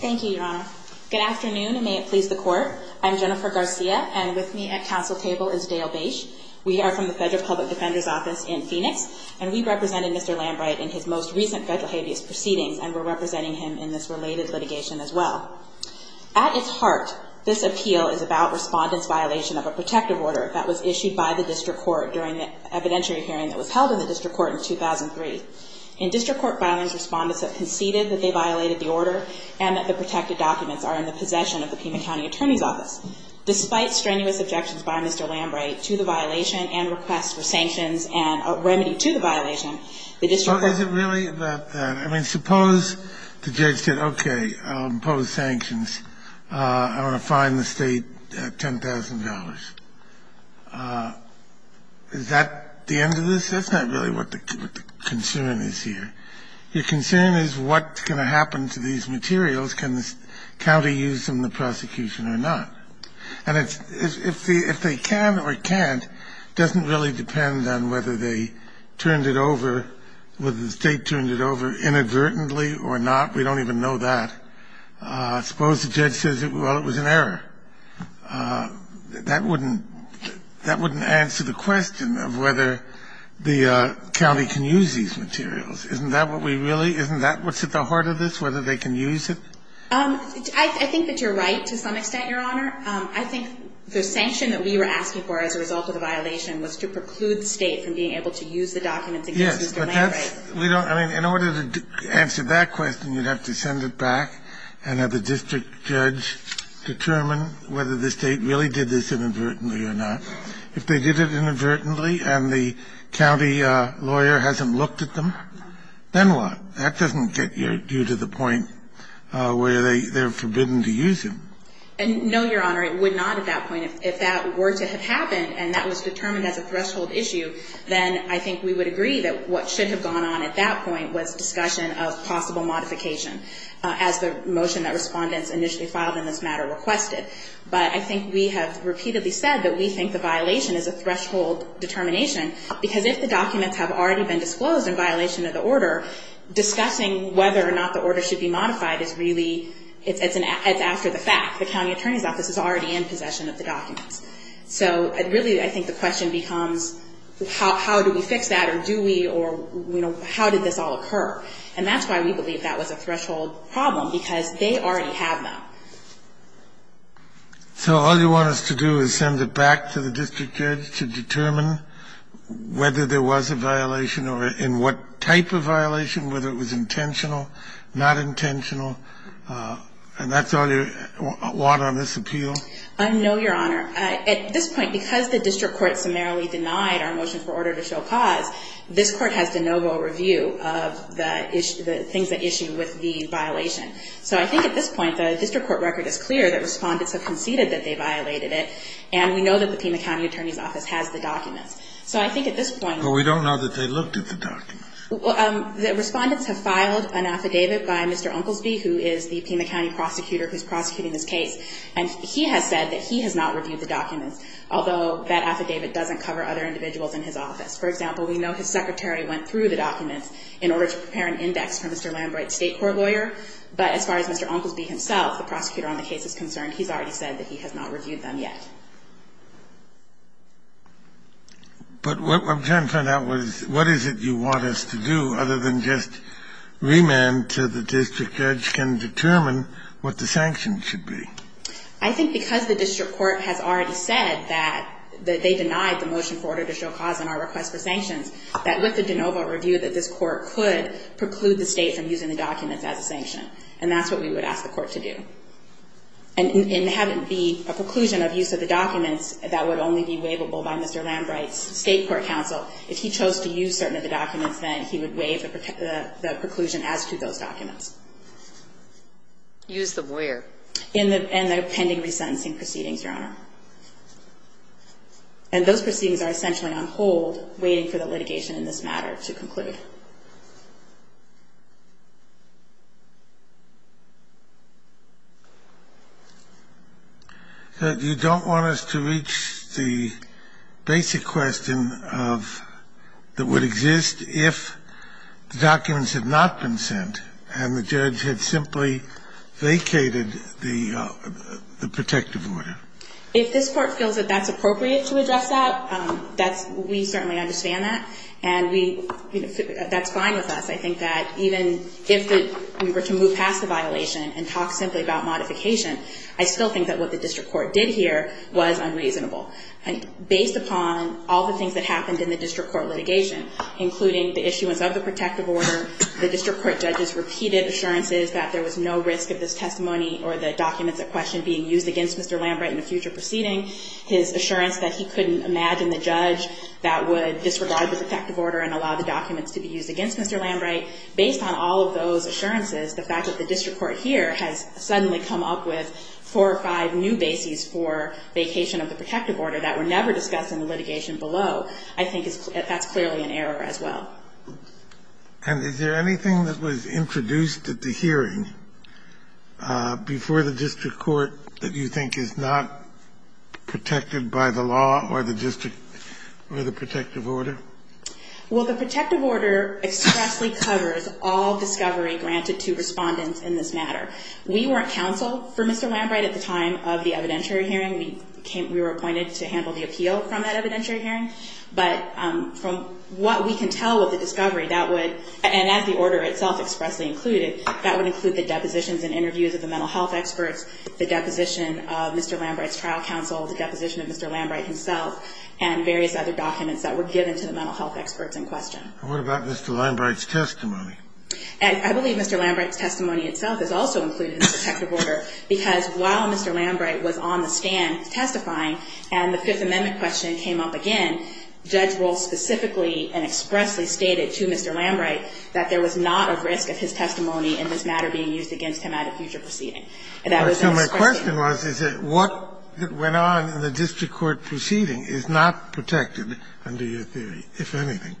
Thank you, Your Honor. Good afternoon, and may it please the Court. I'm Jennifer Garcia, and with me at council table is Dale Bache. We are from the Federal Public Defender's Office in Phoenix, and we represented Mr. Lambright in his most recent federal habeas proceedings, and we're representing him in this related litigation as well. At its heart, this appeal is about respondents' violation of a protective order that was issued by the District Court during the evidentiary hearing that was held in the District Court in 2003. In District Court, respondents have conceded that they violated the order and that the protected documents are in the possession of the Pima County Attorney's Office. Despite strenuous objections by Mr. Lambright to the violation and requests for sanctions and a remedy to the violation, the District Court – Your concern is what's going to happen to these materials. Can the county use them in the prosecution or not? And if they can or can't, it doesn't really depend on whether they turned it over, whether the State turned it over inadvertently or not. We don't even know that. I suppose the judge says, well, it was an error. That wouldn't – that wouldn't answer the question of whether the county can use these materials. Isn't that what we really – isn't that what's at the heart of this, whether they can use it? I think that you're right to some extent, Your Honor. I think the sanction that we were asking for as a result of the violation was to preclude the State from being able to use the documents against Mr. Lambright. We don't – I mean, in order to answer that question, you'd have to send it back and have the district judge determine whether the State really did this inadvertently or not. If they did it inadvertently and the county lawyer hasn't looked at them, then what? That doesn't get you to the point where they're forbidden to use them. No, Your Honor, it would not at that point. If that were to have happened and that was determined as a threshold issue, then I think we would agree that what should have gone on at that point was discussion of possible modification as the motion that respondents initially filed in this matter requested. But I think we have repeatedly said that we think the violation is a threshold determination because if the documents have already been disclosed in violation of the order, discussing whether or not the order should be modified is really – it's after the fact. The county attorney's office is already in possession of the documents. So really, I think the question becomes how do we fix that or do we or, you know, how did this all occur? And that's why we believe that was a threshold problem, because they already have that. So all you want us to do is send it back to the district judge to determine whether there was a violation or in what type of violation, whether it was intentional, not intentional. And that's all you want on this appeal? No, Your Honor. At this point, because the district court summarily denied our motion for order to show cause, this court has de novo review of the things that issue with the violation. So I think at this point, the district court record is clear that respondents have conceded that they violated it, and we know that the Pima County attorney's office has the documents. So I think at this point – But we don't know that they looked at the documents. The respondents have filed an affidavit by Mr. Unkelsby, who is the Pima County prosecutor who's prosecuting this case, and he has said that he has not reviewed the documents, although that affidavit doesn't cover other individuals in his office. For example, we know his secretary went through the documents in order to prepare an index for Mr. Lambright's state court lawyer, but as far as Mr. Unkelsby himself, the prosecutor on the case, is concerned, he's already said that he has not reviewed them yet. But what – I'm trying to find out what is it you want us to do, other than just remand to the district judge can determine what the sanctions should be. I think because the district court has already said that they denied the motion for order to show cause in our request for sanctions, that with the de novo review that this court could preclude the state from using the documents as a sanction. And that's what we would ask the court to do. And have it be a conclusion of use of the documents that would only be waivable by Mr. Lambright's state court counsel. If he chose to use certain of the documents, then he would waive the preclusion as to those documents. Use them where? In the pending resentencing proceedings, Your Honor. And those proceedings are essentially on hold, waiting for the litigation in this matter to conclude. So you don't want us to reach the basic question of – that would exist if the documents had not been sent and the judge had simply vacated the protective order. If this court feels that that's appropriate to address that, that's – we certainly understand that. And we – that's fine with us. I think that even if we were to move past the violation and talk simply about modification, I still think that what the district court did here was unreasonable. Based upon all the things that happened in the district court litigation, including the issuance of the protective order, the district court judges repeated assurances that there was no risk of this testimony or the documents at question being used against Mr. Lambright in a future proceeding. His assurance that he couldn't imagine the judge that would disregard the protective order and allow the documents to be used against Mr. Lambright, based on all of those assurances, the fact that the district court here has suddenly come up with four or five new bases for vacation of the protective order that were never discussed in the litigation below, I think is – that's clearly an error as well. And is there anything that was introduced at the hearing before the district court that you think is not protected by the law or the district – or the protective order? Well, the protective order expressly covers all discovery granted to respondents in this matter. We weren't counsel for Mr. Lambright at the time of the evidentiary hearing. We came – we were appointed to handle the appeal from that evidentiary hearing. But from what we can tell with the discovery, that would – and as the order itself expressly included, that would include the depositions and interviews of the mental health experts, the deposition of Mr. Lambright's trial counsel, the deposition of Mr. Lambright himself, and various other documents that were given to the mental health experts in question. And what about Mr. Lambright's testimony? I believe Mr. Lambright's testimony itself is also included in the protective order because while Mr. Lambright was on the stand testifying and the Fifth Amendment question came up again, Judge Rohl specifically and expressly stated to Mr. Lambright that there was not a risk of his testimony in this matter being used against him at a future proceeding. And that was in this question. So my question was, is that what went on in the district court proceeding is not protected, under your theory, if anything?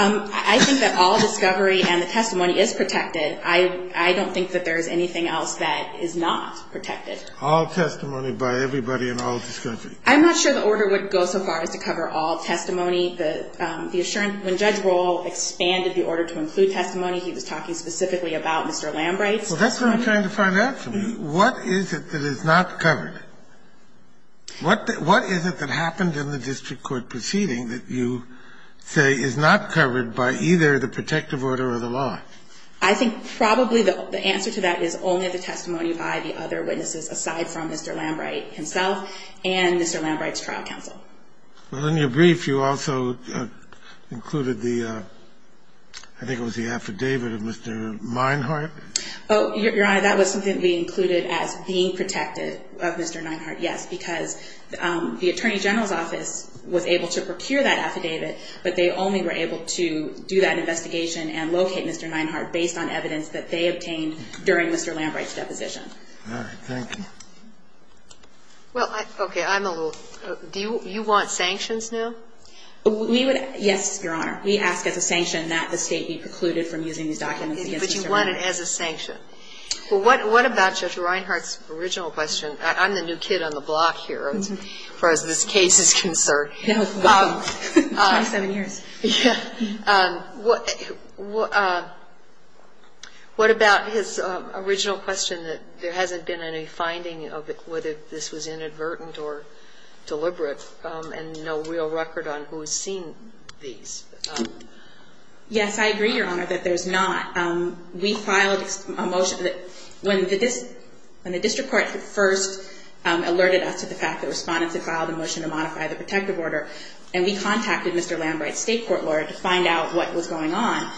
I think that all discovery and the testimony is protected. I don't think that there is anything else that is not protected. All testimony by everybody and all discovery. I'm not sure the order would go so far as to cover all testimony. The assurance when Judge Rohl expanded the order to include testimony, he was talking specifically about Mr. Lambright's testimony. Well, that's what I'm trying to find out from you. What is it that is not covered? What is it that happened in the district court proceeding that you say is not covered by either the protective order or the law? I think probably the answer to that is only the testimony by the other witnesses aside from Mr. Lambright himself and Mr. Lambright's trial counsel. Well, in your brief, you also included the, I think it was the affidavit of Mr. Meinhardt. Your Honor, that was something that we included as being protective of Mr. Meinhardt, yes, because the Attorney General's office was able to procure that affidavit, but they only were able to do that investigation and locate Mr. Meinhardt based on evidence that they obtained during Mr. Lambright's deposition. All right. Thank you. Well, okay. I'm a little. Do you want sanctions now? We would, yes, Your Honor. We ask as a sanction that the State be precluded from using these documents against Mr. Meinhardt. But you want it as a sanction. Well, what about Judge Reinhardt's original question? I'm the new kid on the block here as far as this case is concerned. No, welcome. 27 years. What about his original question that there hasn't been any finding of whether this was inadvertent or deliberate and no real record on who has seen these? Yes, I agree, Your Honor, that there's not. We filed a motion that when the district court first alerted us to the fact that respondents had filed a motion to modify the protective order, and we contacted Mr. Lambright's state court lawyer to find out what was going on,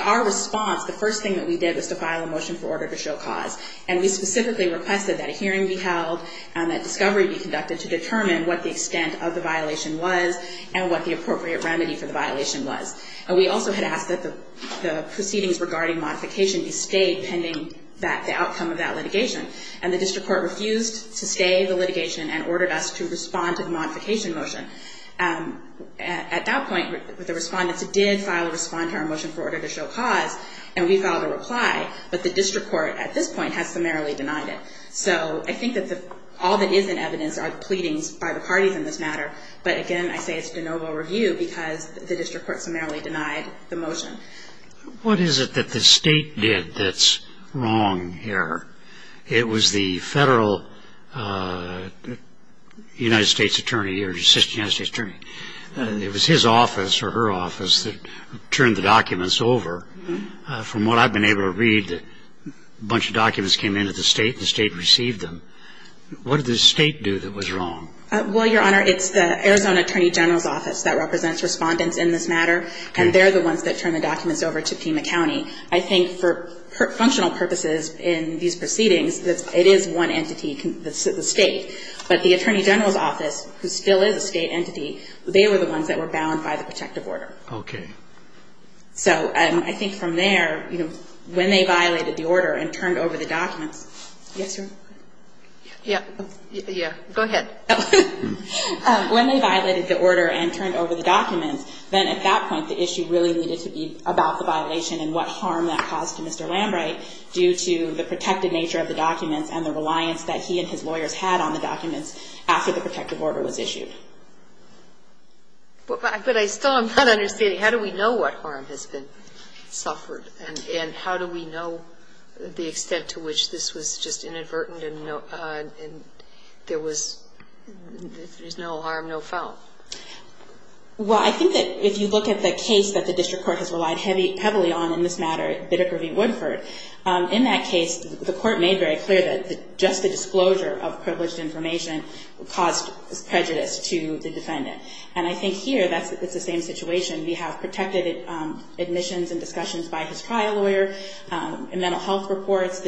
our response, the first thing that we did was to file a motion for order to show cause. And we specifically requested that a hearing be held and that discovery be conducted to determine what the extent of the violation was and what the appropriate remedy for the violation was. And we also had asked that the proceedings regarding modification be stayed pending the outcome of that litigation. And the district court refused to stay the litigation and ordered us to respond to the modification motion. At that point, the respondents did file a respond to our motion for order to show cause, and we filed a reply. But the district court at this point has summarily denied it. So I think that all that is in evidence are pleadings by the parties in this matter. But, again, I say it's de novo review because the district court summarily denied the motion. What is it that the state did that's wrong here? It was the federal United States attorney or assistant United States attorney. It was his office or her office that turned the documents over. From what I've been able to read, a bunch of documents came into the state and the state received them. What did the state do that was wrong? Well, Your Honor, it's the Arizona Attorney General's Office that represents respondents in this matter, and they're the ones that turned the documents over to Pima County. I think for functional purposes in these proceedings, it is one entity, the state. But the Attorney General's Office, who still is a state entity, they were the ones that were bound by the protective order. Okay. So I think from there, when they violated the order and turned over the documents. Yes, Your Honor? Yeah. Go ahead. When they violated the order and turned over the documents, then at that point the issue really needed to be about the violation and what harm that caused to Mr. Lambright due to the protected nature of the documents and the reliance that he and his lawyers had on the documents after the protective order was issued. But I still am not understanding. How do we know what harm has been suffered, and how do we know the extent to which this was just inadvertent and there was no harm, no foul? Well, I think that if you look at the case that the district court has relied heavily on in this matter, Biddick v. Woodford, in that case the court made very clear that just the disclosure of privileged information caused prejudice to the defendant. And I think here it's the same situation. We have protected admissions and discussions by his trial lawyer, mental health reports,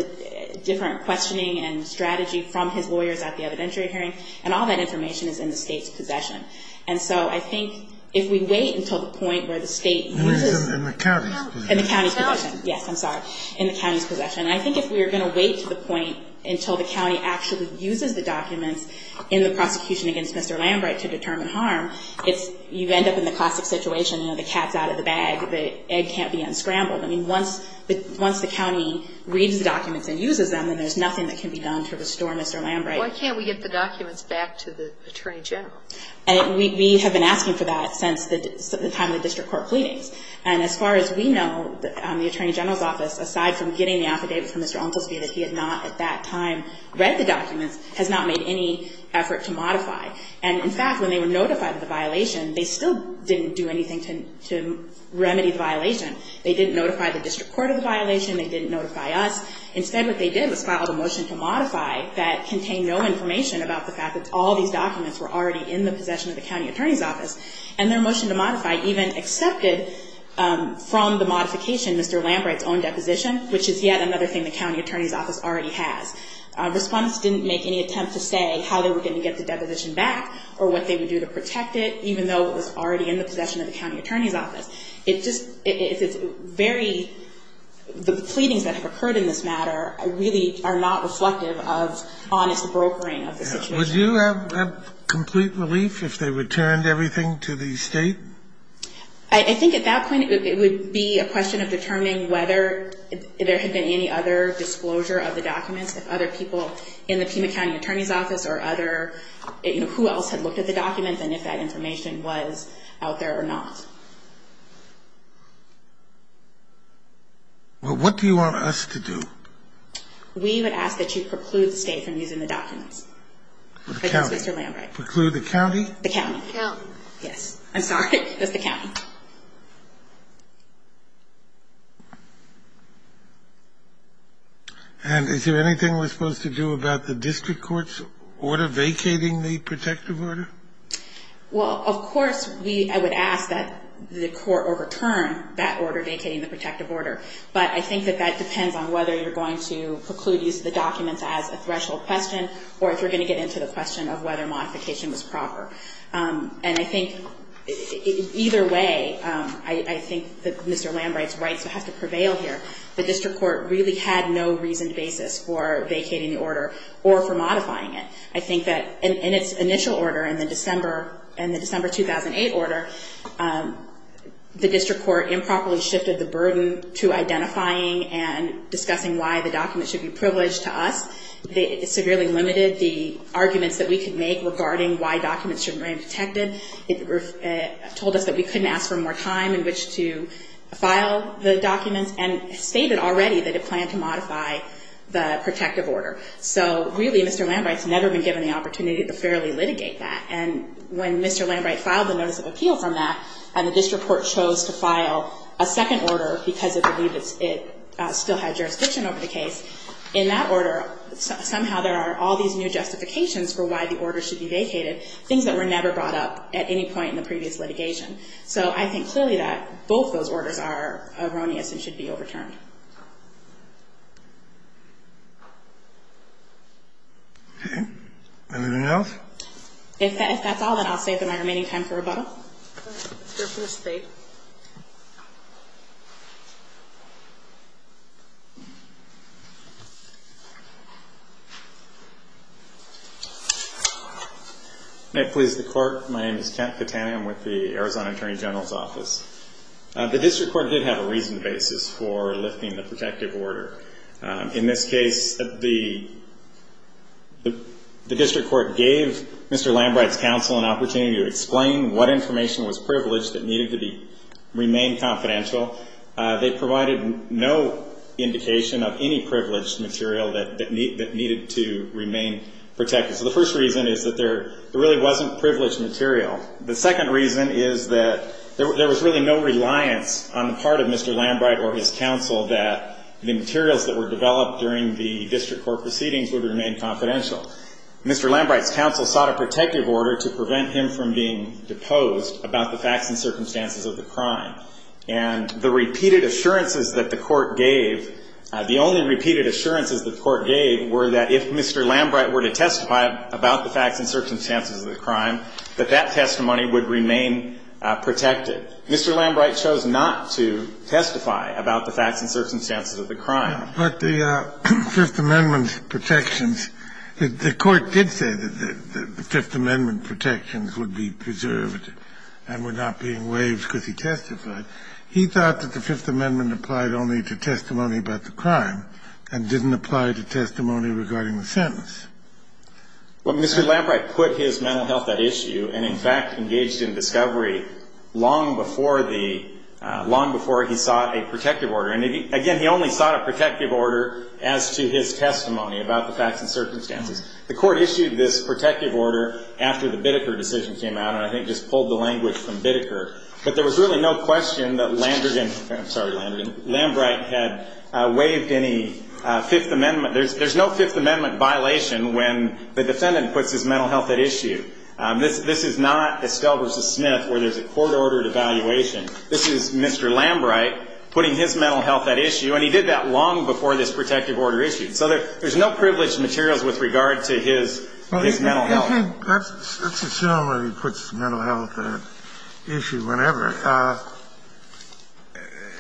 different questioning and strategy from his lawyers at the evidentiary hearing, and all that information is in the state's possession. And so I think if we wait until the point where the state uses the documents in the county's possession, I think if we are going to wait to the point until the county actually uses the documents in the prosecution against Mr. Lambright to determine harm, you end up in the classic situation, the cat's out of the bag, the egg can't be unscrambled. Once the county reads the documents and uses them, then there's nothing that can be done to restore Mr. Lambright. Why can't we get the documents back to the attorney general? And we have been asking for that since the time the district court pleadings. And as far as we know, the attorney general's office, aside from getting the affidavit from Mr. Ontelski that he had not at that time read the documents, has not made any effort to modify. And in fact, when they were notified of the violation, they still didn't do anything to remedy the violation. They didn't notify the district court of the violation. They didn't notify us. Instead, what they did was file a motion to modify that contained no information about the fact that all these documents were already in the possession of the county attorney's office. And their motion to modify even accepted from the modification Mr. Lambright's own deposition, which is yet another thing the county attorney's office already has. Respondents didn't make any attempt to say how they were going to get the deposition back or what they would do to protect it, even though it was already in the possession of the county attorney's office. It just – it's very – the pleadings that have occurred in this matter really are not reflective of honest brokering of the situation. Would you have complete relief if they returned everything to the State? I think at that point it would be a question of determining whether there had been any other disclosure of the documents, if other people in the Pima County attorney's office or other – you know, who else had looked at the documents and if that information was out there or not. Well, what do you want us to do? We would ask that you preclude the State from using the documents. Mr. Lambright. Preclude the county? The county. County. Yes. I'm sorry. That's the county. And is there anything we're supposed to do about the district court's order vacating the protective order? Well, of course we – I would ask that the court overturn that order vacating the protective order. But I think that that depends on whether you're going to preclude use of the documents as a threshold question or if you're going to get into the question of whether modification was proper. And I think either way, I think that Mr. Lambright's rights would have to prevail here. The district court really had no reasoned basis for vacating the order or for modifying it. I think that in its initial order, in the December 2008 order, the district court improperly shifted the burden to identifying and discussing why the documents should be privileged to us. It severely limited the arguments that we could make regarding why documents should remain protected. It told us that we couldn't ask for more time in which to file the documents and stated already that it planned to modify the protective order. So really, Mr. Lambright's never been given the opportunity to fairly litigate that. And when Mr. Lambright filed the notice of appeal from that and the district court chose to file a second order because it believed it still had jurisdiction over the case, in that order, somehow there are all these new justifications for why the order should be vacated, things that were never brought up at any point in the previous litigation. So I think clearly that both those orders are erroneous and should be overturned. Okay. Anything else? If that's all, then I'll save my remaining time for rebuttal. Your first state. May it please the court. My name is Kent Pitani. I'm with the Arizona Attorney General's Office. The district court did have a reasoned basis for lifting the order. In this case, the district court gave Mr. Lambright's counsel an opportunity to explain what information was privileged that needed to remain confidential. They provided no indication of any privileged material that needed to remain protected. So the first reason is that there really wasn't privileged material. The second reason is that there was really no reliance on the part of Mr. Lambright's counsel that the materials that were developed during the district court proceedings would remain confidential. Mr. Lambright's counsel sought a protective order to prevent him from being deposed about the facts and circumstances of the crime. And the repeated assurances that the court gave, the only repeated assurances that the court gave were that if Mr. Lambright were to testify about the facts and circumstances of the crime, that that testimony would remain protected. Mr. Lambright chose not to testify about the facts and circumstances of the crime. But the Fifth Amendment protections, the court did say that the Fifth Amendment protections would be preserved and were not being waived because he testified. He thought that the Fifth Amendment applied only to testimony about the crime and Well, Mr. Lambright did this long before he sought a protective order. And again, he only sought a protective order as to his testimony about the facts and circumstances. The court issued this protective order after the Biddeker decision came out, and I think just pulled the language from Biddeker. But there was really no question that Lambright had waived any Fifth Amendment. There's no Fifth Amendment violation when the defendant puts his mental health at issue. This is not Estelle v. Smith where there's a court-ordered evaluation. This is Mr. Lambright putting his mental health at issue, and he did that long before this protective order issued. So there's no privileged materials with regard to his mental health. Let's assume that he puts mental health at issue whenever.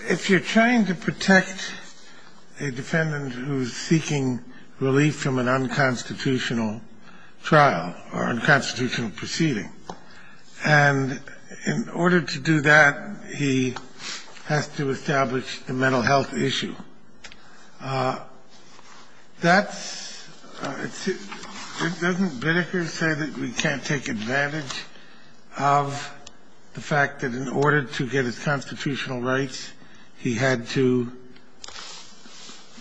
If you're trying to protect a defendant who's seeking relief from an unconstitutional trial or unconstitutional proceeding. And in order to do that, he has to establish the mental health issue. That's – doesn't Biddeker say that we can't take advantage of the fact that in order to get his constitutional rights, he had to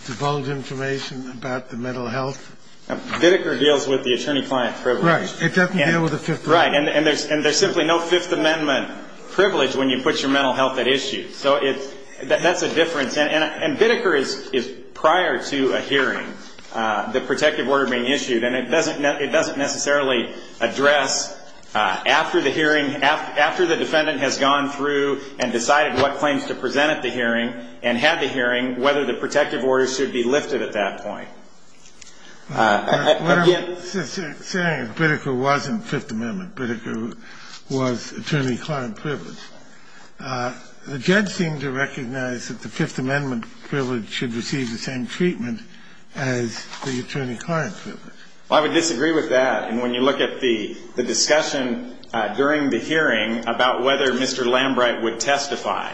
divulge information about the mental health? Biddeker deals with the attorney-client privilege. Right. It doesn't deal with the Fifth Amendment. Right. And there's simply no Fifth Amendment privilege when you put your mental health at issue. So it's – that's a difference. And Biddeker is prior to a hearing, the protective order being issued. And it doesn't necessarily address after the hearing, after the defendant has gone through and decided what claims to present at the hearing and had the hearing, whether the protective order should be lifted at that point. Again – You're saying that Biddeker wasn't Fifth Amendment. Biddeker was attorney-client privilege. The judge seemed to recognize that the Fifth Amendment privilege should receive the same treatment as the attorney-client privilege. Well, I would disagree with that. And when you look at the discussion during the hearing about whether Mr. Lambright would testify,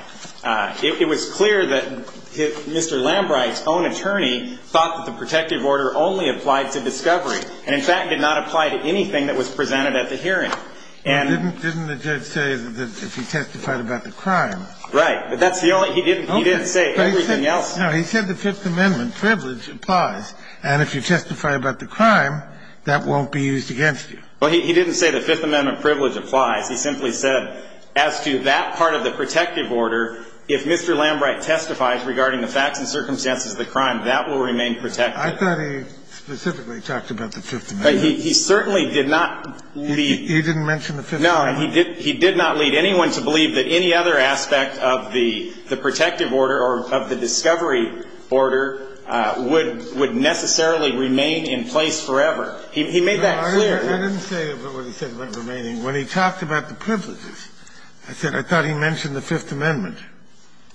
it was clear that Mr. Lambright's own attorney thought that the protective order only applied to discovery and, in fact, did not apply to anything that was presented at the hearing. And – Didn't the judge say that if he testified about the crime – Right. But that's the only – he didn't say everything else. No. He said the Fifth Amendment privilege applies. And if you testify about the crime, that won't be used against you. Well, he didn't say the Fifth Amendment privilege applies. He simply said as to that part of the protective order, if Mr. Lambright testifies regarding the facts and circumstances of the crime, that will remain protected. I thought he specifically talked about the Fifth Amendment. But he certainly did not lead – He didn't mention the Fifth Amendment. No. He did not lead anyone to believe that any other aspect of the protective order or of the discovery order would necessarily remain in place forever. He made that clear. No, I didn't say about what he said about remaining. When he talked about the privileges, I said I thought he mentioned the Fifth Amendment.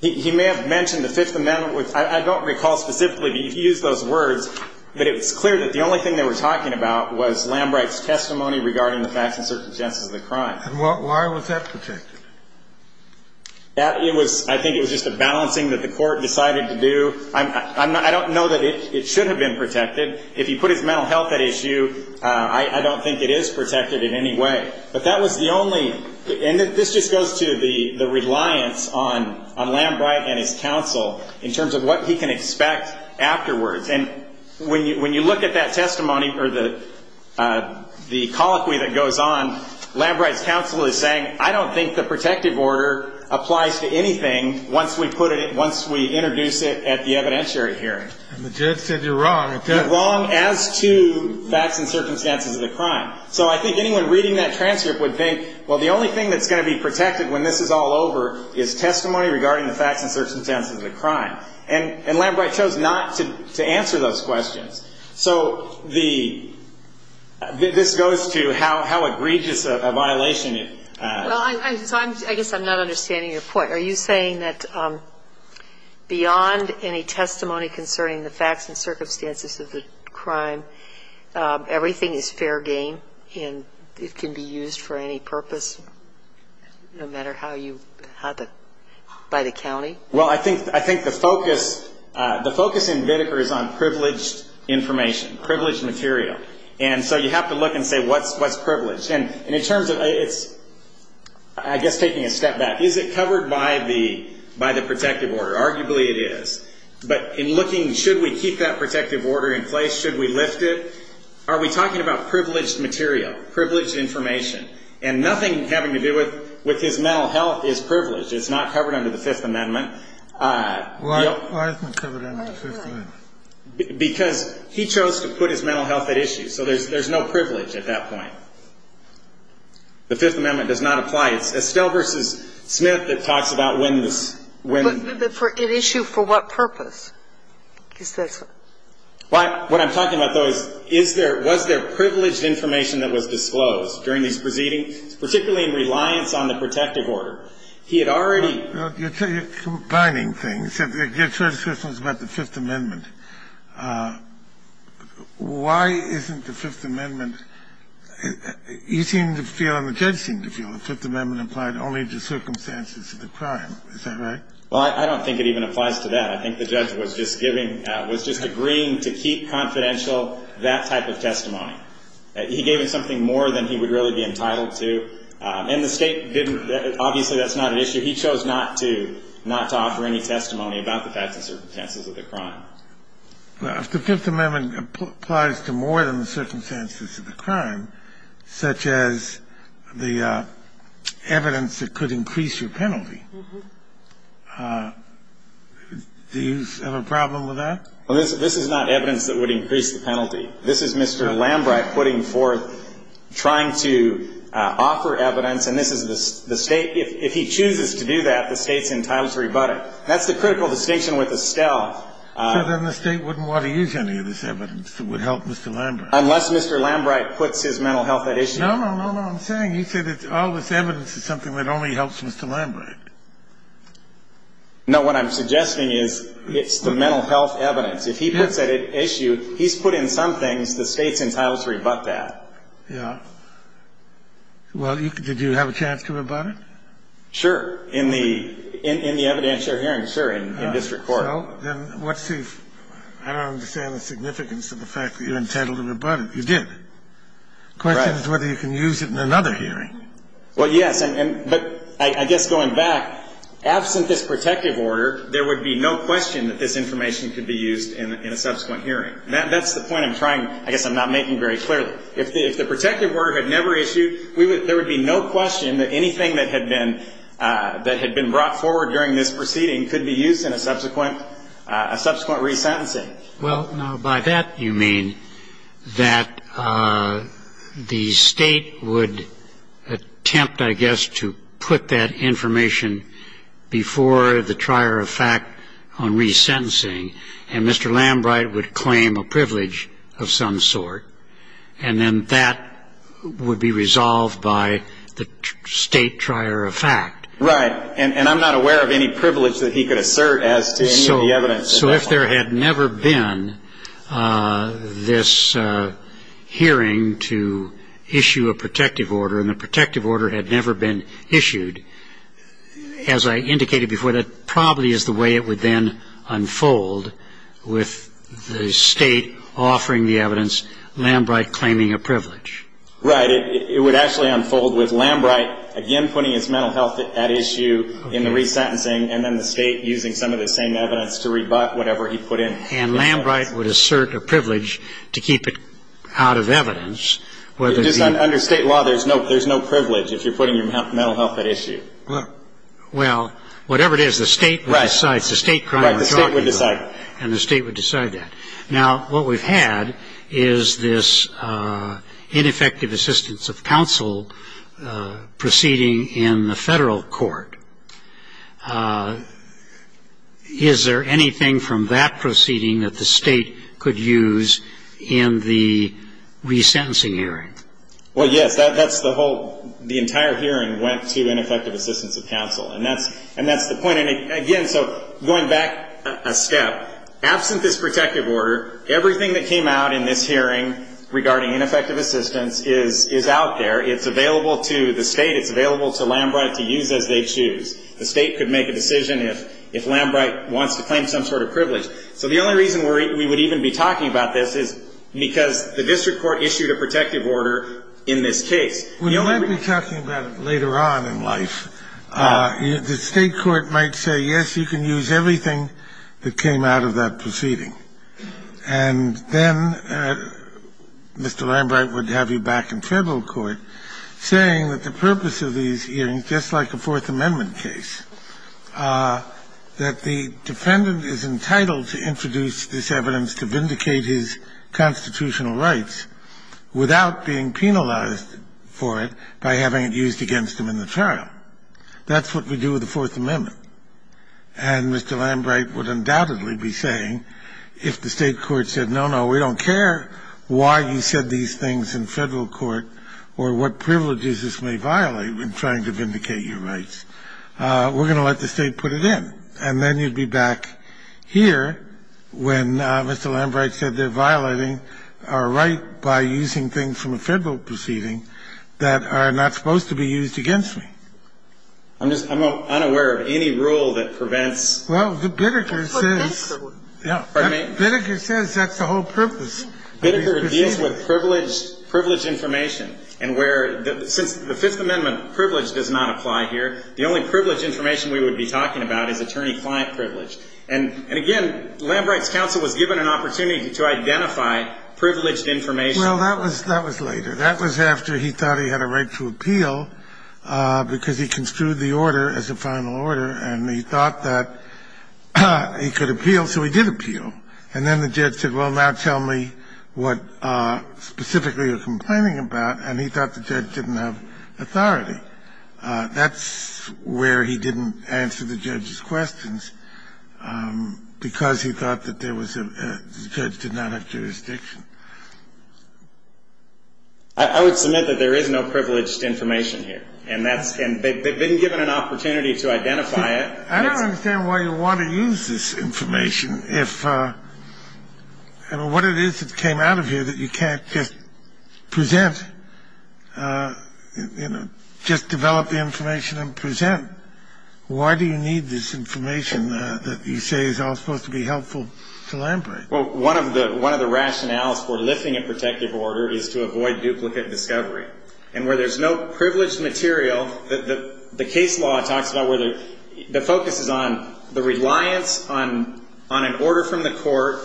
He may have mentioned the Fifth Amendment. I don't recall specifically if he used those words. But it was clear that the only thing they were talking about was Lambright's testimony regarding the facts and circumstances of the crime. And why was that protected? It was – I think it was just a balancing that the court decided to do. I don't know that it should have been protected. If he put his mental health at issue, I don't think it is protected in any way. But that was the only – and this just goes to the reliance on Lambright and his counsel in terms of what he can expect afterwards. And when you look at that testimony or the colloquy that goes on, Lambright's counsel is saying I don't think the protective order applies to anything once we put it – once we introduce it at the evidentiary hearing. And the judge said you're wrong. You're wrong as to facts and circumstances of the crime. So I think anyone reading that transcript would think, well, the only thing that's going to be protected when this is all over is testimony regarding the facts and circumstances of the crime. And Lambright chose not to answer those questions. So the – this goes to how egregious a violation it is. Well, I guess I'm not understanding your point. Are you saying that beyond any testimony concerning the facts and circumstances of the crime, everything is fair game and it can be used for any purpose, no matter how you – by the county? Well, I think the focus in Whitaker is on privileged information, privileged material. And so you have to look and say what's privileged? And in terms of – it's, I guess, taking a step back. Is it covered by the protective order? Arguably it is. But in looking, should we keep that protective order in place? Should we lift it? Are we talking about privileged material, privileged information? And nothing having to do with his mental health is privileged. It's not covered under the Fifth Amendment. Why isn't it covered under the Fifth Amendment? Because he chose to put his mental health at issue. So there's no privilege at that point. The Fifth Amendment does not apply. It's Estelle v. Smith that talks about when the – But for – at issue, for what purpose? Because that's what – What I'm talking about, though, is, is there – was there privileged information that was disclosed during these proceedings, particularly in reliance on the protective order? He had already – Well, you're combining things. You're talking about the Fifth Amendment. Why isn't the Fifth Amendment – you seem to feel and the judge seemed to feel the Fifth Amendment applied only to circumstances of the crime. Is that right? Well, I don't think it even applies to that. I think the judge was just giving – was just agreeing to keep confidential that type of testimony. He gave us something more than he would really be entitled to. And the State didn't – obviously, that's not an issue. He chose not to – not to offer any testimony about the facts and circumstances of the crime. Well, if the Fifth Amendment applies to more than the circumstances of the crime, such as the evidence that could increase your penalty, do you have a problem with that? Well, this is not evidence that would increase the penalty. This is Mr. Lambright putting forth – trying to offer evidence, and this is the State – if he chooses to do that, the State's entitled to rebut it. That's the critical distinction with Estelle. So then the State wouldn't want to use any of this evidence that would help Mr. Lambright. Unless Mr. Lambright puts his mental health at issue. No, no, no, no. I'm saying he said all this evidence is something that only helps Mr. Lambright. No. What I'm suggesting is it's the mental health evidence. If he puts that at issue, he's put in some things the State's entitled to rebut that. Yeah. Well, did you have a chance to rebut it? Sure. In the – in the evidence you're hearing, sure, in district court. Well, then what's the – I don't understand the significance of the fact that you're entitled to rebut it. You didn't. The question is whether you can use it in another hearing. Well, yes. But I guess going back, absent this protective order, there would be no question that this information could be used in a subsequent hearing. That's the point I'm trying – I guess I'm not making very clearly. If the protective order had never issued, we would – there would be no question that anything that had been – that had been brought forward during this proceeding could be used in a subsequent – a subsequent resentencing. Well, now, by that you mean that the State would attempt, I guess, to put that information before the trier of fact on resentencing, and Mr. Lambright would claim a privilege of some sort, and then that would be resolved by the State trier of fact. Right. And I'm not aware of any privilege that he could assert as to any of the evidence. So if there had never been this hearing to issue a protective order, and the protective order had never been issued, as I indicated before, that probably is the way it would then unfold with the State offering the evidence, Lambright claiming a privilege. Right. But it would actually unfold with Lambright, again, putting his mental health at issue in the resentencing, and then the State using some of the same evidence to rebut whatever he put in. And Lambright would assert a privilege to keep it out of evidence, whether the – Just under State law, there's no privilege if you're putting your mental health at issue. Well, whatever it is, the State would decide. Right. It's a State crime. Right, the State would decide. And the State would decide that. Now, what we've had is this ineffective assistance of counsel proceeding in the federal court. Is there anything from that proceeding that the State could use in the resentencing hearing? Well, yes. That's the whole – the entire hearing went to ineffective assistance of counsel. And that's the point. I mean, again, so going back a step, absent this protective order, everything that came out in this hearing regarding ineffective assistance is out there. It's available to the State. It's available to Lambright to use as they choose. The State could make a decision if Lambright wants to claim some sort of privilege. So the only reason we would even be talking about this is because the district court issued a protective order in this case. When you might be talking about it later on in life, the State court might say, yes, you can use everything that came out of that proceeding. And then Mr. Lambright would have you back in federal court saying that the purpose of these hearings, just like a Fourth Amendment case, that the defendant is entitled to introduce this evidence to vindicate his constitutional rights without being penalized for it by having it used against him in the trial. That's what we do with the Fourth Amendment. And Mr. Lambright would undoubtedly be saying, if the State court said, no, no, we don't care why you said these things in federal court or what privileges this may violate in trying to vindicate your rights. We're going to let the State put it in. And then you'd be back here when Mr. Lambright said they're violating our right by using things from a federal proceeding that are not supposed to be used against me. I'm just unaware of any rule that prevents. Well, the Biddeker says. Biddeker says that's the whole purpose. Biddeker deals with privilege information. And where, since the Fifth Amendment privilege does not apply here, the only privilege information we would be talking about is attorney-client privilege. And again, Lambright's counsel was given an opportunity to identify privileged information. Well, that was later. That was after he thought he had a right to appeal because he construed the order as a final order, and he thought that he could appeal, so he did appeal. And then the judge said, well, now tell me what specifically you're complaining about, and he thought the judge didn't have authority. That's where he didn't answer the judge's questions, because he thought that there was a – the judge did not have jurisdiction. I would submit that there is no privileged information here, and that's – and they've been given an opportunity to identify it. I don't understand why you want to use this information if – I mean, what it is that you can't just present, you know, just develop the information and present. Why do you need this information that you say is all supposed to be helpful to Lambright? Well, one of the – one of the rationales for lifting a protective order is to avoid duplicate discovery. And where there's no privileged material, the case law talks about where the – the focus is on the reliance on an order from the court.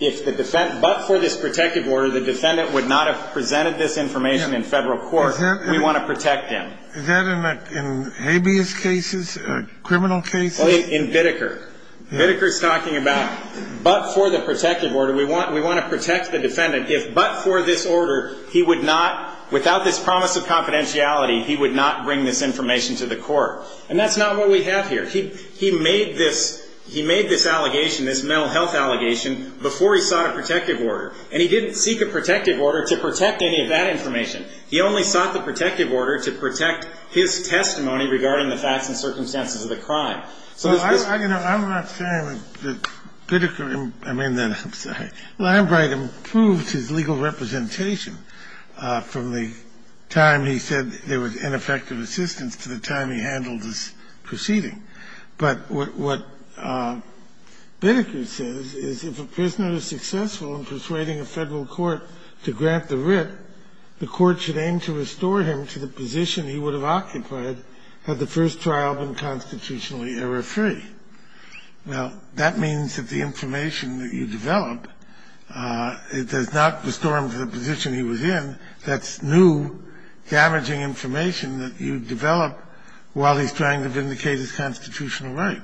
If the – but for this protective order, the defendant would not have presented this information in federal court. We want to protect him. Is that in habeas cases, criminal cases? Well, in Biddeker. Biddeker's talking about but for the protective order, we want to protect the defendant if but for this order, he would not – without this promise of confidentiality, he would not bring this information to the court. And that's not what we have here. He – he made this – he made this allegation, this mental health allegation, before he sought a protective order. And he didn't seek a protective order to protect any of that information. He only sought the protective order to protect his testimony regarding the facts and circumstances of the crime. So there's this – Well, I – you know, I'm not saying that Biddeker – I mean that – I'm sorry. Lambright improves his legal representation from the time he said there was ineffective assistance to the time he handled this proceeding. But what Biddeker says is if a prisoner is successful in persuading a federal court to grant the writ, the court should aim to restore him to the position he would have occupied had the first trial been constitutionally error-free. Now, that means that the information that you develop, it does not restore him to the position he was in. That's new, damaging information that you develop while he's trying to vindicate his constitutional right.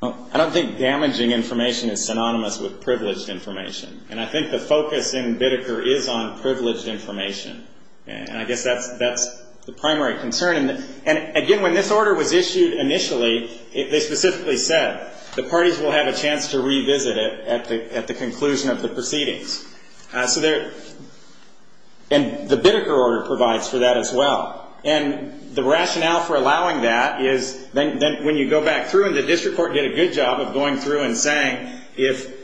Well, I don't think damaging information is synonymous with privileged information. And I think the focus in Biddeker is on privileged information. And I guess that's – that's the primary concern. And, again, when this order was issued initially, they specifically said the parties will have a chance to revisit it at the – at the conclusion of the proceedings. So there – and the Biddeker order provides for that as well. And the rationale for allowing that is then when you go back through, and the district court did a good job of going through and saying, if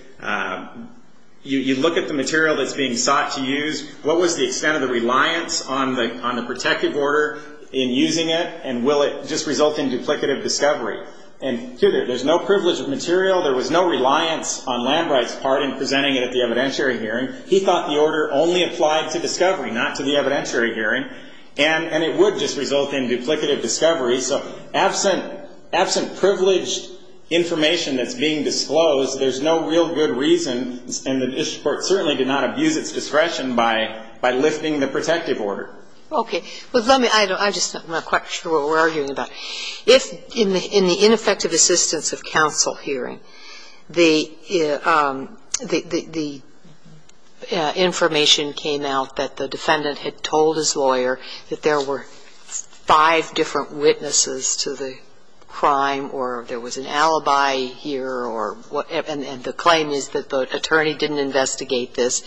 you look at the material that's being sought to use, what was the extent of the reliance on the – on the protective order in using it, and will it just result in duplicative discovery? And, too, there's no privilege of material. There was no reliance on Lambright's part in presenting it at the evidentiary hearing. He thought the order only applied to discovery, not to the evidentiary hearing. And it would just result in duplicative discovery. So absent – absent privileged information that's being disclosed, there's no real good reason, and the district court certainly did not abuse its discretion by – by lifting the protective order. Okay. Well, let me – I just – I'm not quite sure what we're arguing about. If in the – in the ineffective assistance of counsel hearing, the – the information came out that the defendant had told his lawyer that there were five different witnesses to the crime, or there was an alibi here, or what – and the claim is that the attorney didn't investigate this,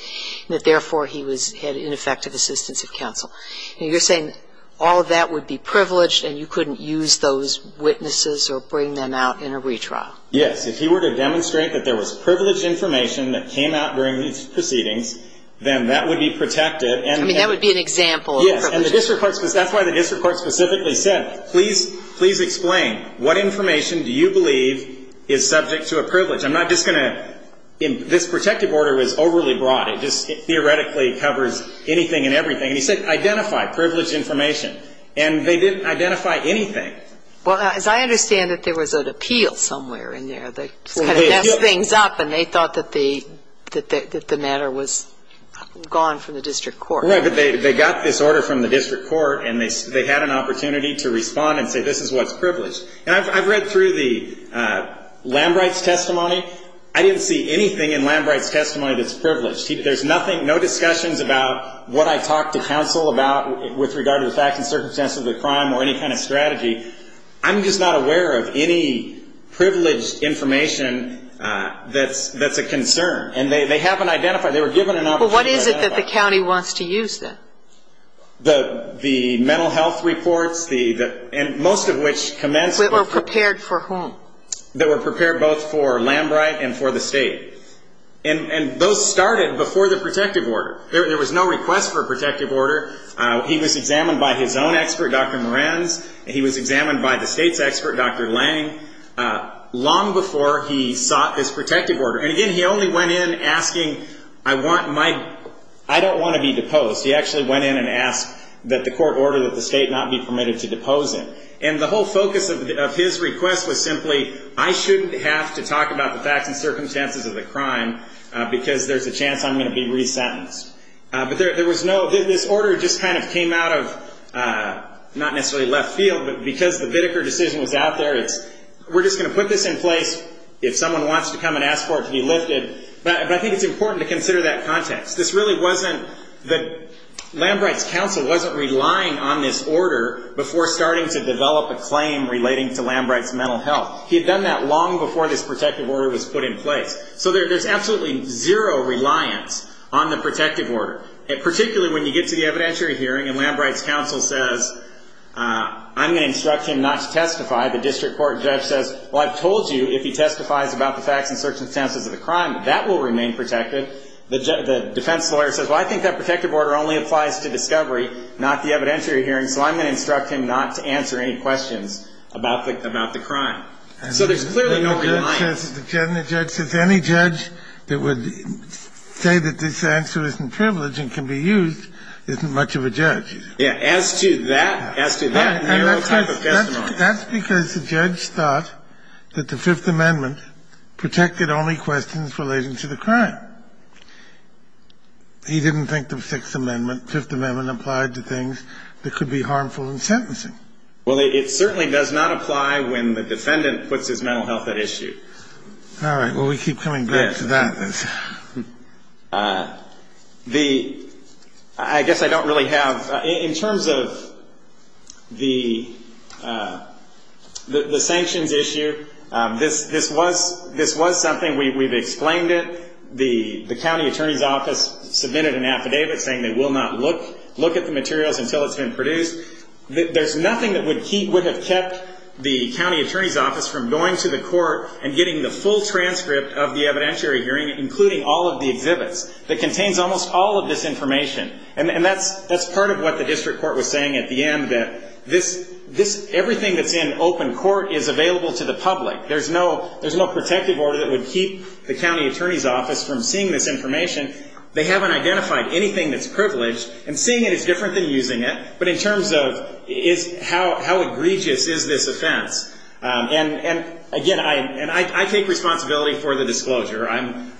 and that, therefore, he was – had ineffective assistance of counsel. And you're saying all of that would be privileged, and you couldn't use those witnesses or bring them out in a retrial. Yes. If he were to demonstrate that there was privileged information that came out during these proceedings, then that would be protected, and – I mean, that would be an example of privilege. Yes. And the district court – that's why the district court specifically said, please – please explain. What information do you believe is subject to a privilege? I'm not just going to – this protective order is overly broad. It just theoretically covers anything and everything. And he said, identify privileged information. And they didn't identify anything. Well, as I understand it, there was an appeal somewhere in there that kind of messed things up, and they thought that the – that the matter was gone from the district court. Right. But they got this order from the district court, and they had an opportunity to respond and say, this is what's privileged. And I've read through the Lambright's testimony. I didn't see anything in Lambright's testimony that's privileged. There's nothing – no discussions about what I talked to counsel about with regard to the facts and circumstances of the crime or any kind of strategy. I'm just not aware of any privileged information that's a concern. And they haven't identified it. They were given an opportunity to identify it. Well, what is it that the county wants to use, then? The mental health reports, the – and most of which commenced with – That were prepared for whom? That were prepared both for Lambright and for the state. And those started before the protective order. There was no request for a protective order. He was examined by his own expert, Dr. Moran's, and he was examined by the state's expert, Dr. Lange, long before he sought this protective order. And again, he only went in asking, I want my – I don't want to be deposed. He actually went in and asked that the court order that the state not be permitted to depose him. And the whole focus of his request was simply, I shouldn't have to talk about the facts and circumstances of the crime because there's a chance I'm going to be resentenced. But there was no – this order just kind of came out of not necessarily left field, but because the Biddeker decision was out there, it's – we're just going to put this in place if someone wants to come and ask for it to be lifted. But I think it's important to consider that context. This really wasn't – Lambright's counsel wasn't relying on this order before starting to develop a claim relating to Lambright's mental health. He had done that long before this protective order was put in place. So there's absolutely zero reliance on the protective order, particularly when you get to the evidentiary hearing and Lambright's counsel says, I'm going to instruct him not to testify. The district court judge says, well, I've told you if he testifies about the facts and circumstances of the crime, that will remain protected. The defense lawyer says, well, I think that protective order only applies to discovery, not the evidentiary hearing, so I'm going to instruct him not to testify. So there's clearly no reliance. And the judge says – the judge says any judge that would say that this answer isn't privileged and can be used isn't much of a judge. Yeah. As to that – as to that narrow type of testimony. That's because the judge thought that the Fifth Amendment protected only questions relating to the crime. He didn't think the Sixth Amendment – Fifth Amendment applied to things that could be harmful in sentencing. Well, it certainly does not apply when the defendant puts his mental health at issue. All right. Well, we keep coming back to that. The – I guess I don't really have – in terms of the sanctions issue, this was – this was something – we've explained it. The county attorney's office submitted an affidavit saying they will not look at the materials until it's been produced. There's nothing that would keep – would have kept the county attorney's office from going to the court and getting the full transcript of the evidentiary hearing, including all of the exhibits, that contains almost all of this information. And that's – that's part of what the district court was saying at the end, that this – this – everything that's in open court is available to the public. There's no – there's no protective order that would keep the county attorney's office from seeing this information. They haven't identified anything that's privileged. And seeing it is different than using it. But in terms of is – how egregious is this offense? And, again, I – and I take responsibility for the disclosure. I'm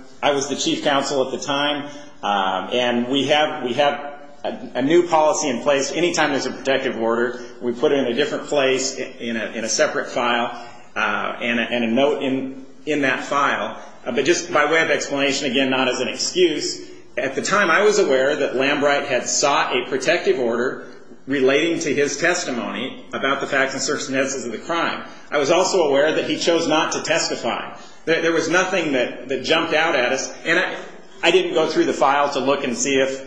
– I was the chief counsel at the time. And we have – we have a new policy in place. Anytime there's a protective order, we put it in a different place, in a separate file, and a note in that file. But just by way of explanation, again, not as an excuse, at the time I was aware that Lambright had sought a protective order relating to his testimony about the facts and circumstances of the crime. I was also aware that he chose not to testify. There was nothing that jumped out at us. And I didn't go through the file to look and see if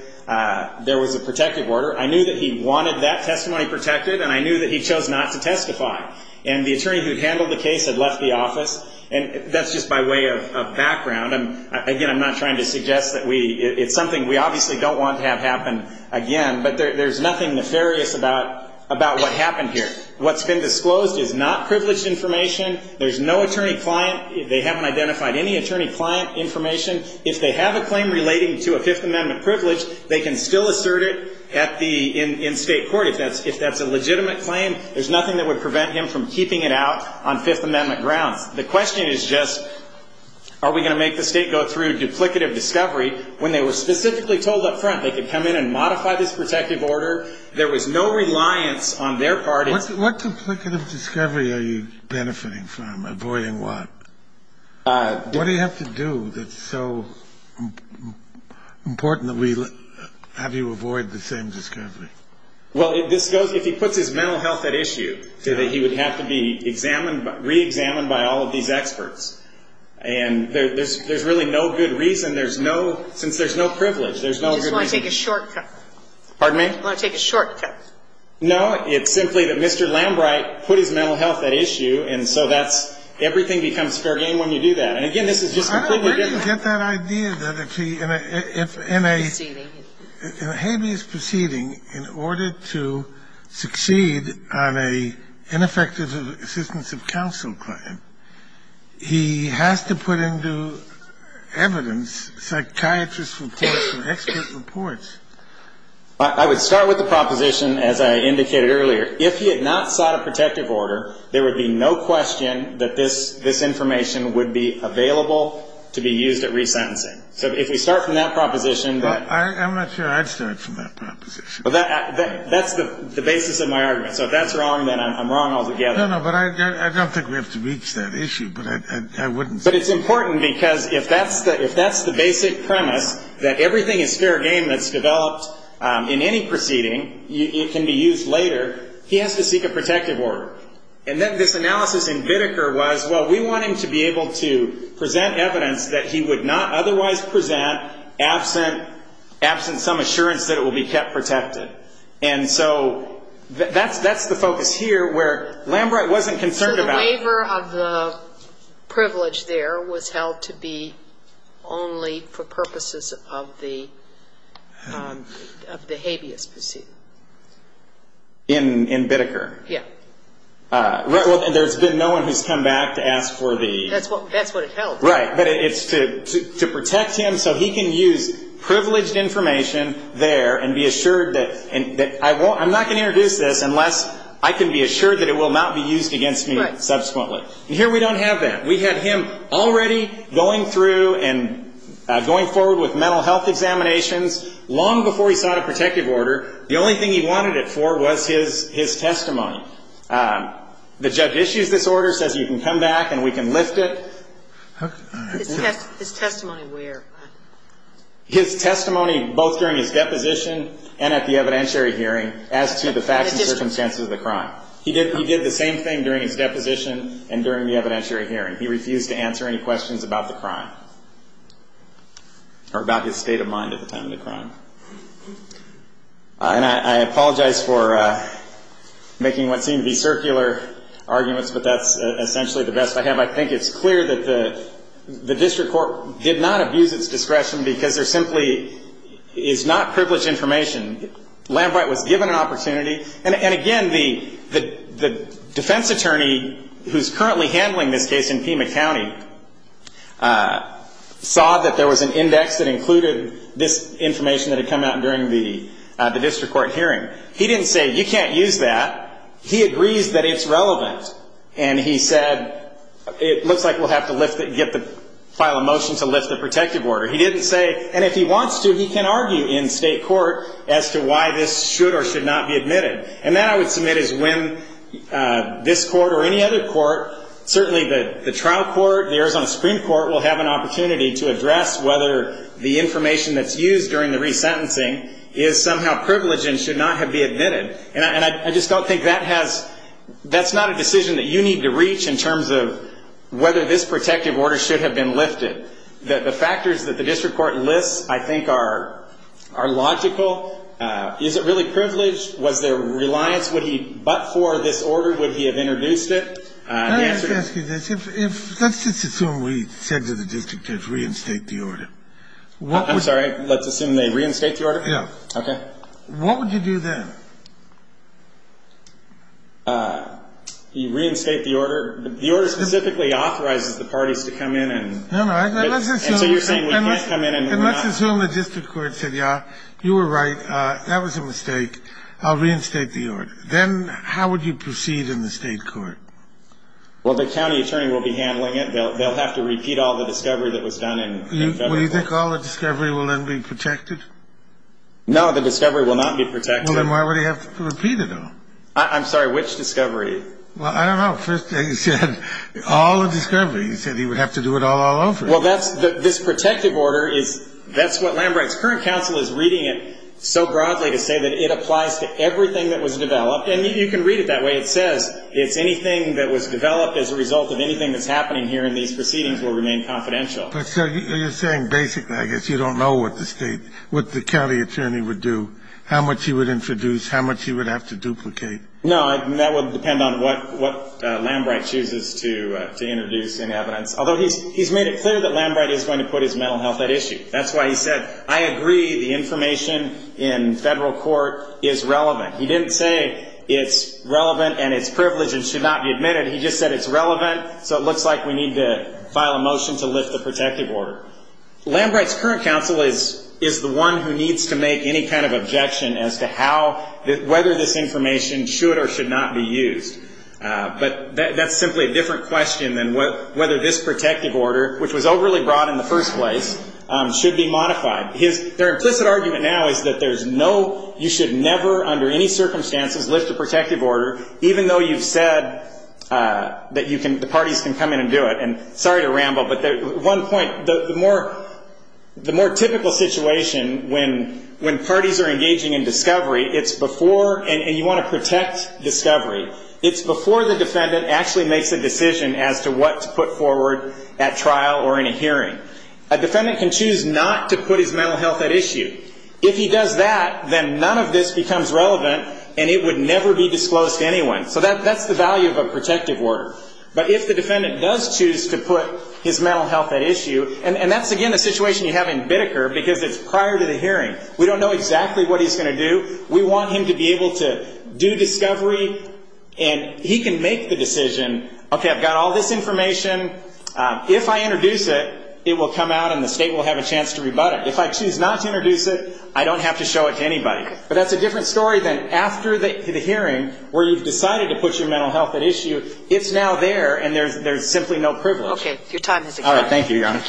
there was a protective order. I knew that he wanted that testimony protected. And I knew that he chose not to testify. And the attorney who handled the case had left the office. And that's just by way of background. Again, I'm not trying to suggest that we – it's something we obviously don't want to have happen again. But there's nothing nefarious about what happened here. What's been disclosed is not privileged information. There's no attorney-client. They haven't identified any attorney-client information. If they have a claim relating to a Fifth Amendment privilege, they can still assert it at the – in state court. If that's a legitimate claim, there's nothing that would prevent him from keeping it out on Fifth Amendment grounds. The question is just, are we going to make the state go through duplicative discovery when they were specifically told up front they could come in and modify this protective order? There was no reliance on their part in – What duplicative discovery are you benefiting from? Avoiding what? What do you have to do that's so important that we have you avoid the same discovery? Well, this goes – if he puts his mental health at issue, that he would have to be examined – reexamined by all of these experts. And there's really no good reason. There's no – since there's no privilege, there's no good reason. You just want to take a shortcut. Pardon me? You want to take a shortcut. No. It's simply that Mr. Lambright put his mental health at issue, and so that's – everything becomes fair game when you do that. And, again, this is just completely different. I don't know where you get that idea that if he – if in a – Proceeding. I would start with the proposition, as I indicated earlier, if he had not sought a protective order, there would be no question that this information would be available to be used at resentencing. So if we start from that proposition that – Well, I'm not sure I'd start from that proposition. Well, that's the basis of my argument. So if that's wrong, then I'm wrong altogether. No, no. But I don't think we have to reach that issue, but I wouldn't say that. But it's important because if that's the – if that's the basic premise, that everything is fair game that's developed in any proceeding, it can be used later, he has to seek a protective order. And then this analysis in Bitteker was, well, we want him to be able to present evidence that he would not otherwise present absent some assurance that it will be kept protected. And so that's the focus here where Lambright wasn't concerned about – So the waiver of the privilege there was held to be only for purposes of the habeas proceeding. In Bitteker? Yeah. Well, there's been no one who's come back to ask for the – That's what it held. Right. But it's to protect him so he can use privileged information there and be assured that – I'm not going to introduce this unless I can be assured that it will not be used against me subsequently. Right. And here we don't have that. We had him already going through and going forward with mental health examinations long before he sought a protective order. The only thing he wanted it for was his testimony. The judge issues this order, says you can come back and we can lift it. His testimony where? His testimony both during his deposition and at the evidentiary hearing as to the facts and circumstances of the crime. He did the same thing during his deposition and during the evidentiary hearing. He refused to answer any questions about the crime or about his state of mind at the time of the crime. And I apologize for making what seem to be circular arguments, but that's essentially the best I have. I think it's clear that the district court did not abuse its discretion because there simply is not privileged information. Lambright was given an opportunity. And, again, the defense attorney who's currently handling this case in Pima County, he didn't say you can't use that. He agrees that it's relevant. And he said it looks like we'll have to file a motion to lift the protective order. He didn't say, and if he wants to, he can argue in state court as to why this should or should not be admitted. And that, I would submit, is when this court or any other court, certainly the trial court, the Arizona Supreme Court, will have an opportunity to address whether the information that's used during the resentencing is somehow privileged and should not have been admitted. And I just don't think that has, that's not a decision that you need to reach in terms of whether this protective order should have been lifted. The factors that the district court lists, I think, are logical. Is it really privileged? Was there reliance? Would he, but for this order, would he have introduced it? Let's just assume we said to the district judge, reinstate the order. I'm sorry? Let's assume they reinstate the order? Yeah. Okay. What would you do then? Reinstate the order? The order specifically authorizes the parties to come in and so you're saying we can't come in and not? And let's assume the district court said, yeah, you were right, that was a mistake, I'll reinstate the order. Then how would you proceed in the state court? Well, the county attorney will be handling it. They'll have to repeat all the discovery that was done in February. Do you think all the discovery will then be protected? No, the discovery will not be protected. Well, then why would he have to repeat it all? I'm sorry, which discovery? Well, I don't know. First, he said all the discovery. He said he would have to do it all all over. Well, that's, this protective order is, that's what Lambrecht's current counsel is reading it so broadly to say that it was developed and you can read it that way. It says it's anything that was developed as a result of anything that's happening here in these proceedings will remain confidential. So you're saying basically I guess you don't know what the state, what the county attorney would do, how much he would introduce, how much he would have to duplicate. No, that would depend on what Lambrecht chooses to introduce in evidence. Although he's made it clear that Lambrecht is going to put his mental health at issue. That's why he said, I agree, the information in federal court is relevant. He didn't say it's relevant and it's privileged and should not be admitted. He just said it's relevant. So it looks like we need to file a motion to lift the protective order. Lambrecht's current counsel is the one who needs to make any kind of objection as to how, whether this information should or should not be used. But that's simply a different question than whether this protective order, which was overly broad in the first place, should be modified. Their implicit argument now is that there's no, you should never under any circumstances lift a protective order, even though you've said that the parties can come in and do it. And sorry to ramble, but one point, the more typical situation when parties are engaging in discovery, it's before, and you want to protect discovery, it's before the defendant actually makes a decision as to what to put forward at trial or in a hearing. A defendant can choose not to put his mental health at issue. If he does that, then none of this becomes relevant and it would never be disclosed to anyone. So that's the value of a protective order. But if the defendant does choose to put his mental health at issue, and that's, again, a situation you have in Biddeker because it's prior to the hearing. We don't know exactly what he's going to do. We want him to be able to do discovery and he can make the decision, okay, I've got all this information. If I introduce it, it will come out and the state will have a chance to rebut it. If I choose not to introduce it, I don't have to show it to anybody. But that's a different story than after the hearing where you've decided to put your mental health at issue. It's now there and there's simply no privilege. Okay. Your time has expired. All right. Thank you, Your Honor.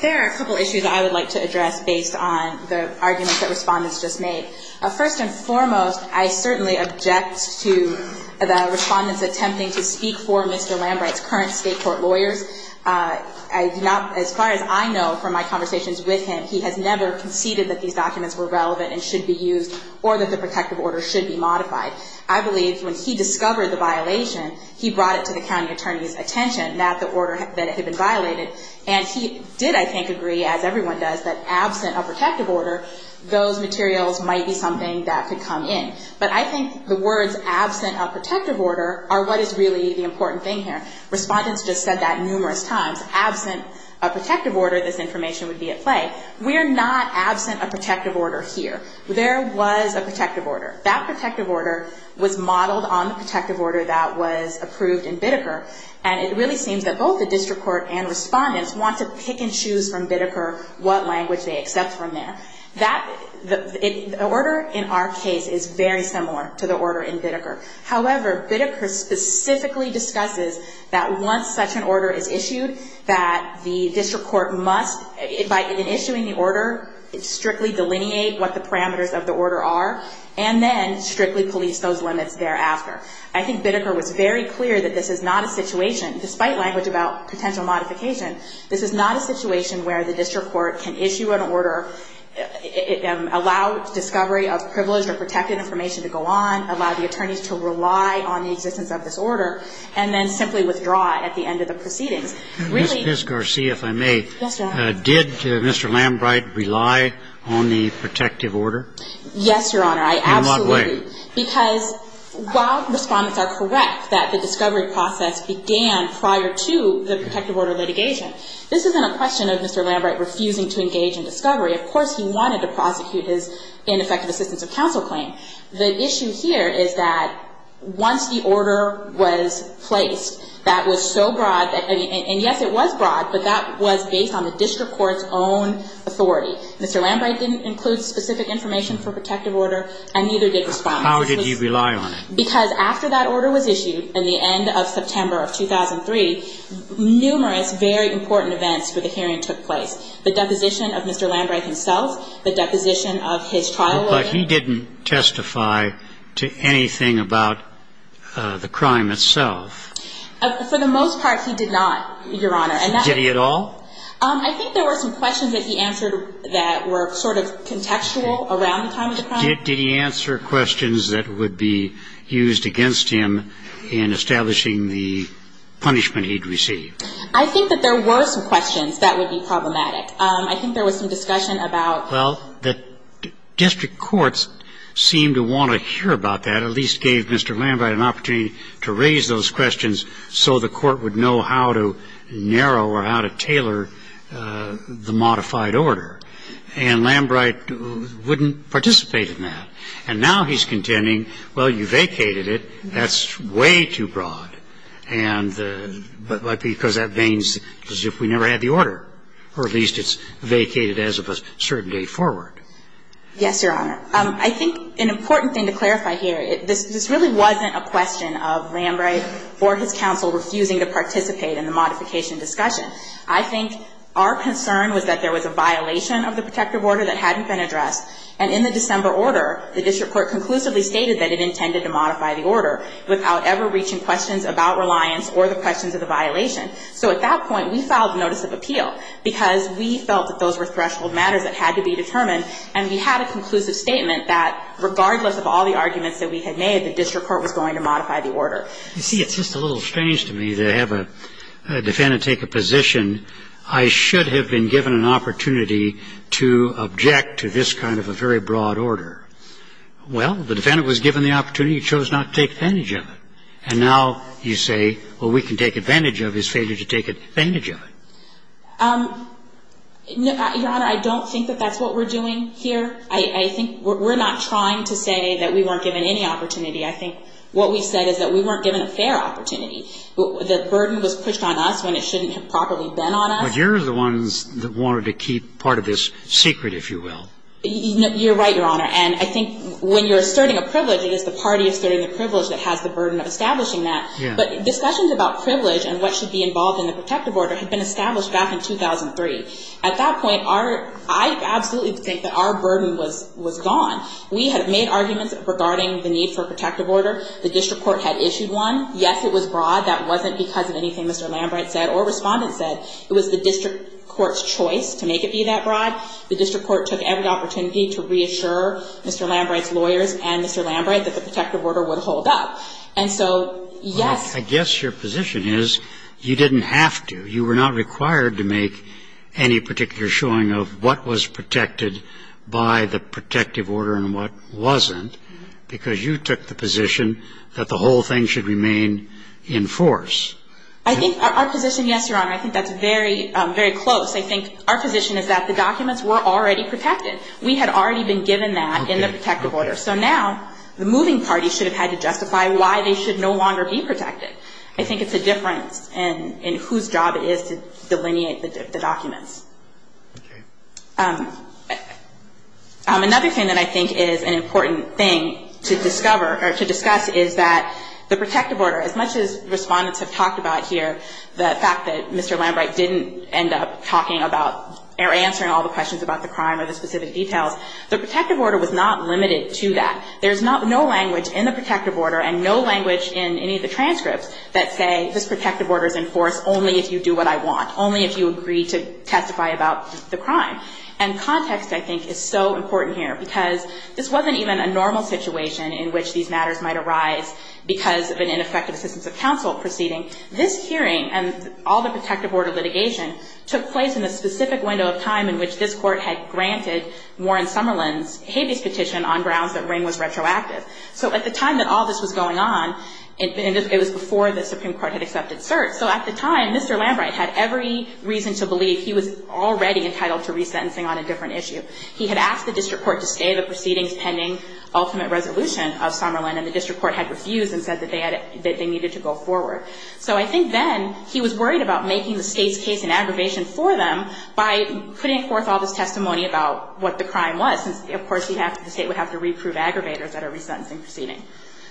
There are a couple issues I would like to address based on the arguments that respondents just made. First and foremost, I certainly object to the respondents attempting to speak for Mr. Lambright's current state court lawyers. As far as I know from my conversations with him, he has never conceded that these documents were relevant and should be used or that the protective order should be modified. I believe when he discovered the violation, he brought it to the county attorney's attention that the order had been violated. And he did, I think, agree, as everyone does, that absent a protective order, those materials might be something that could come in. But I think the words absent a protective order are what is really the important thing here. Respondents just said that numerous times. Absent a protective order, this information would be at play. We are not absent a protective order here. There was a protective order. That protective order was modeled on the protective order that was approved in Biddeker. And it really seems that both the district court and respondents want to pick and choose from Biddeker what language they accept from there. The order in our case is very similar to the order in Biddeker. However, Biddeker specifically discusses that once such an order is issued, that the district court must, in issuing the order, strictly delineate what the parameters of the order are, and then strictly police those limits thereafter. I think Biddeker was very clear that this is not a situation, despite language about potential modification, this is not a situation where the district court can issue an order, allow discovery of privileged or protected information to go on, allow the attorneys to rely on the existence of this order, and then simply withdraw it at the end of the proceedings. Really — Mr. Garcia, if I may. Yes, Your Honor. Did Mr. Lambright rely on the protective order? Yes, Your Honor. In what way? Because while respondents are correct that the discovery process began prior to the protective order litigation, this isn't a question of Mr. Lambright refusing to engage in discovery. Of course, he wanted to prosecute his ineffective assistance of counsel claim. The issue here is that once the order was placed, that was so broad, and yes, it was broad, but that was based on the district court's own authority. Mr. Lambright didn't include specific information for protective order, and neither did respondents. How did he rely on it? Because after that order was issued in the end of September of 2003, numerous very important events for the hearing took place. The deposition of Mr. Lambright himself, the deposition of his trial lawyer. But he didn't testify to anything about the crime itself. For the most part, he did not, Your Honor. Did he at all? I think there were some questions that he answered that were sort of contextual around the time of the crime. Did he answer questions that would be used against him in establishing the punishment he'd received? I think that there were some questions that would be problematic. I think there was some discussion about. Well, the district courts seemed to want to hear about that, at least gave Mr. Lambright an opportunity to raise those questions so the court would know how to narrow or how to tailor the modified order. And Lambright wouldn't participate in that. And now he's contending, well, you vacated it. That's way too broad. And because that veins as if we never had the order, or at least it's vacated as of a certain date forward. Yes, Your Honor. I think an important thing to clarify here, this really wasn't a question of Lambright or his counsel refusing to participate in the modification discussion. I think our concern was that there was a violation of the protective order that hadn't been addressed. And in the December order, the district court conclusively stated that it intended to modify the order without ever reaching questions about reliance or the questions of the violation. So at that point, we filed notice of appeal because we felt that those were threshold matters that had to be determined. And we had a conclusive statement that regardless of all the arguments that we had made, the district court was going to modify the order. You see, it's just a little strange to me to have a defendant take a position, I should have been given an opportunity to object to this kind of a very broad order. Well, the defendant was given the opportunity. He chose not to take advantage of it. And now you say, well, we can take advantage of his failure to take advantage of it. Your Honor, I don't think that that's what we're doing here. I think we're not trying to say that we weren't given any opportunity. I think what we said is that we weren't given a fair opportunity. The burden was pushed on us when it shouldn't have properly been on us. But you're the ones that wanted to keep part of this secret, if you will. You're right, Your Honor. And I think when you're asserting a privilege, it is the party asserting the privilege that has the burden of establishing that. But discussions about privilege and what should be involved in the protective order had been established back in 2003. At that point, our – I absolutely think that our burden was gone. We had made arguments regarding the need for a protective order. The district court had issued one. Yes, it was broad. That wasn't because of anything Mr. Lambright said or Respondent said. It was the district court's choice to make it be that broad. The district court took every opportunity to reassure Mr. Lambright's lawyers and Mr. Lambright that the protective order would hold up. And so, yes. I guess your position is you didn't have to. You were not required to make any particular showing of what was protected by the protective order and what wasn't because you took the position that the whole thing should remain in force. I think our position, yes, Your Honor. I think that's very, very close. I think our position is that the documents were already protected. We had already been given that in the protective order. So now the moving party should have had to justify why they should no longer be protected. I think it's a difference in whose job it is to delineate the documents. Okay. Another thing that I think is an important thing to discover or to discuss is that the protective order, as much as Respondents have talked about here, the fact that Mr. Lambright didn't end up talking about or answering all the questions about the crime or the specific details, the protective order was not limited to that. There's no language in the protective order and no language in any of the transcripts that say this protective order is in force only if you do what I want, only if you agree to testify about the crime. And context, I think, is so important here because this wasn't even a normal situation in which these matters might arise because of an ineffective assistance of counsel proceeding. This hearing and all the protective order litigation took place in a specific window of time in which this Court had granted Warren Summerlin's habeas petition on grounds that Ring was retroactive. So at the time that all this was going on, it was before the Supreme Court had accepted cert. So at the time, Mr. Lambright had every reason to believe he was already entitled to resentencing on a different issue. He had asked the district court to stay the proceedings pending ultimate resolution of Summerlin, and the district court had refused and said that they needed to go forward. So I think then he was worried about making the State's case an aggravation for them by putting forth all this testimony about what the crime was, since, of course, the State would have to reprove aggravators at a resentencing proceeding.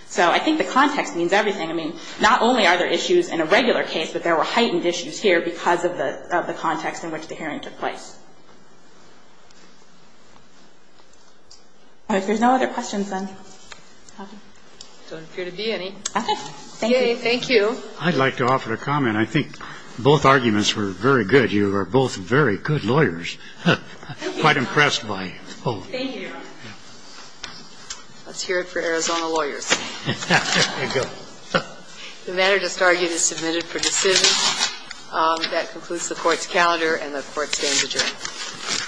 So I think the context means everything. I mean, not only are there issues in a regular case, but there were heightened issues here because of the context in which the hearing took place. All right. If there's no other questions, then I'm happy. I don't appear to be any. Okay. Thank you. Yay. Thank you. I'd like to offer a comment. I think both arguments were very good. You are both very good lawyers. I'm quite impressed by both. Thank you, Your Honor. Let's hear it for Arizona lawyers. The matter just argued is submitted for decision. That concludes the Court's calendar, and the Court stands adjourned. Thank you.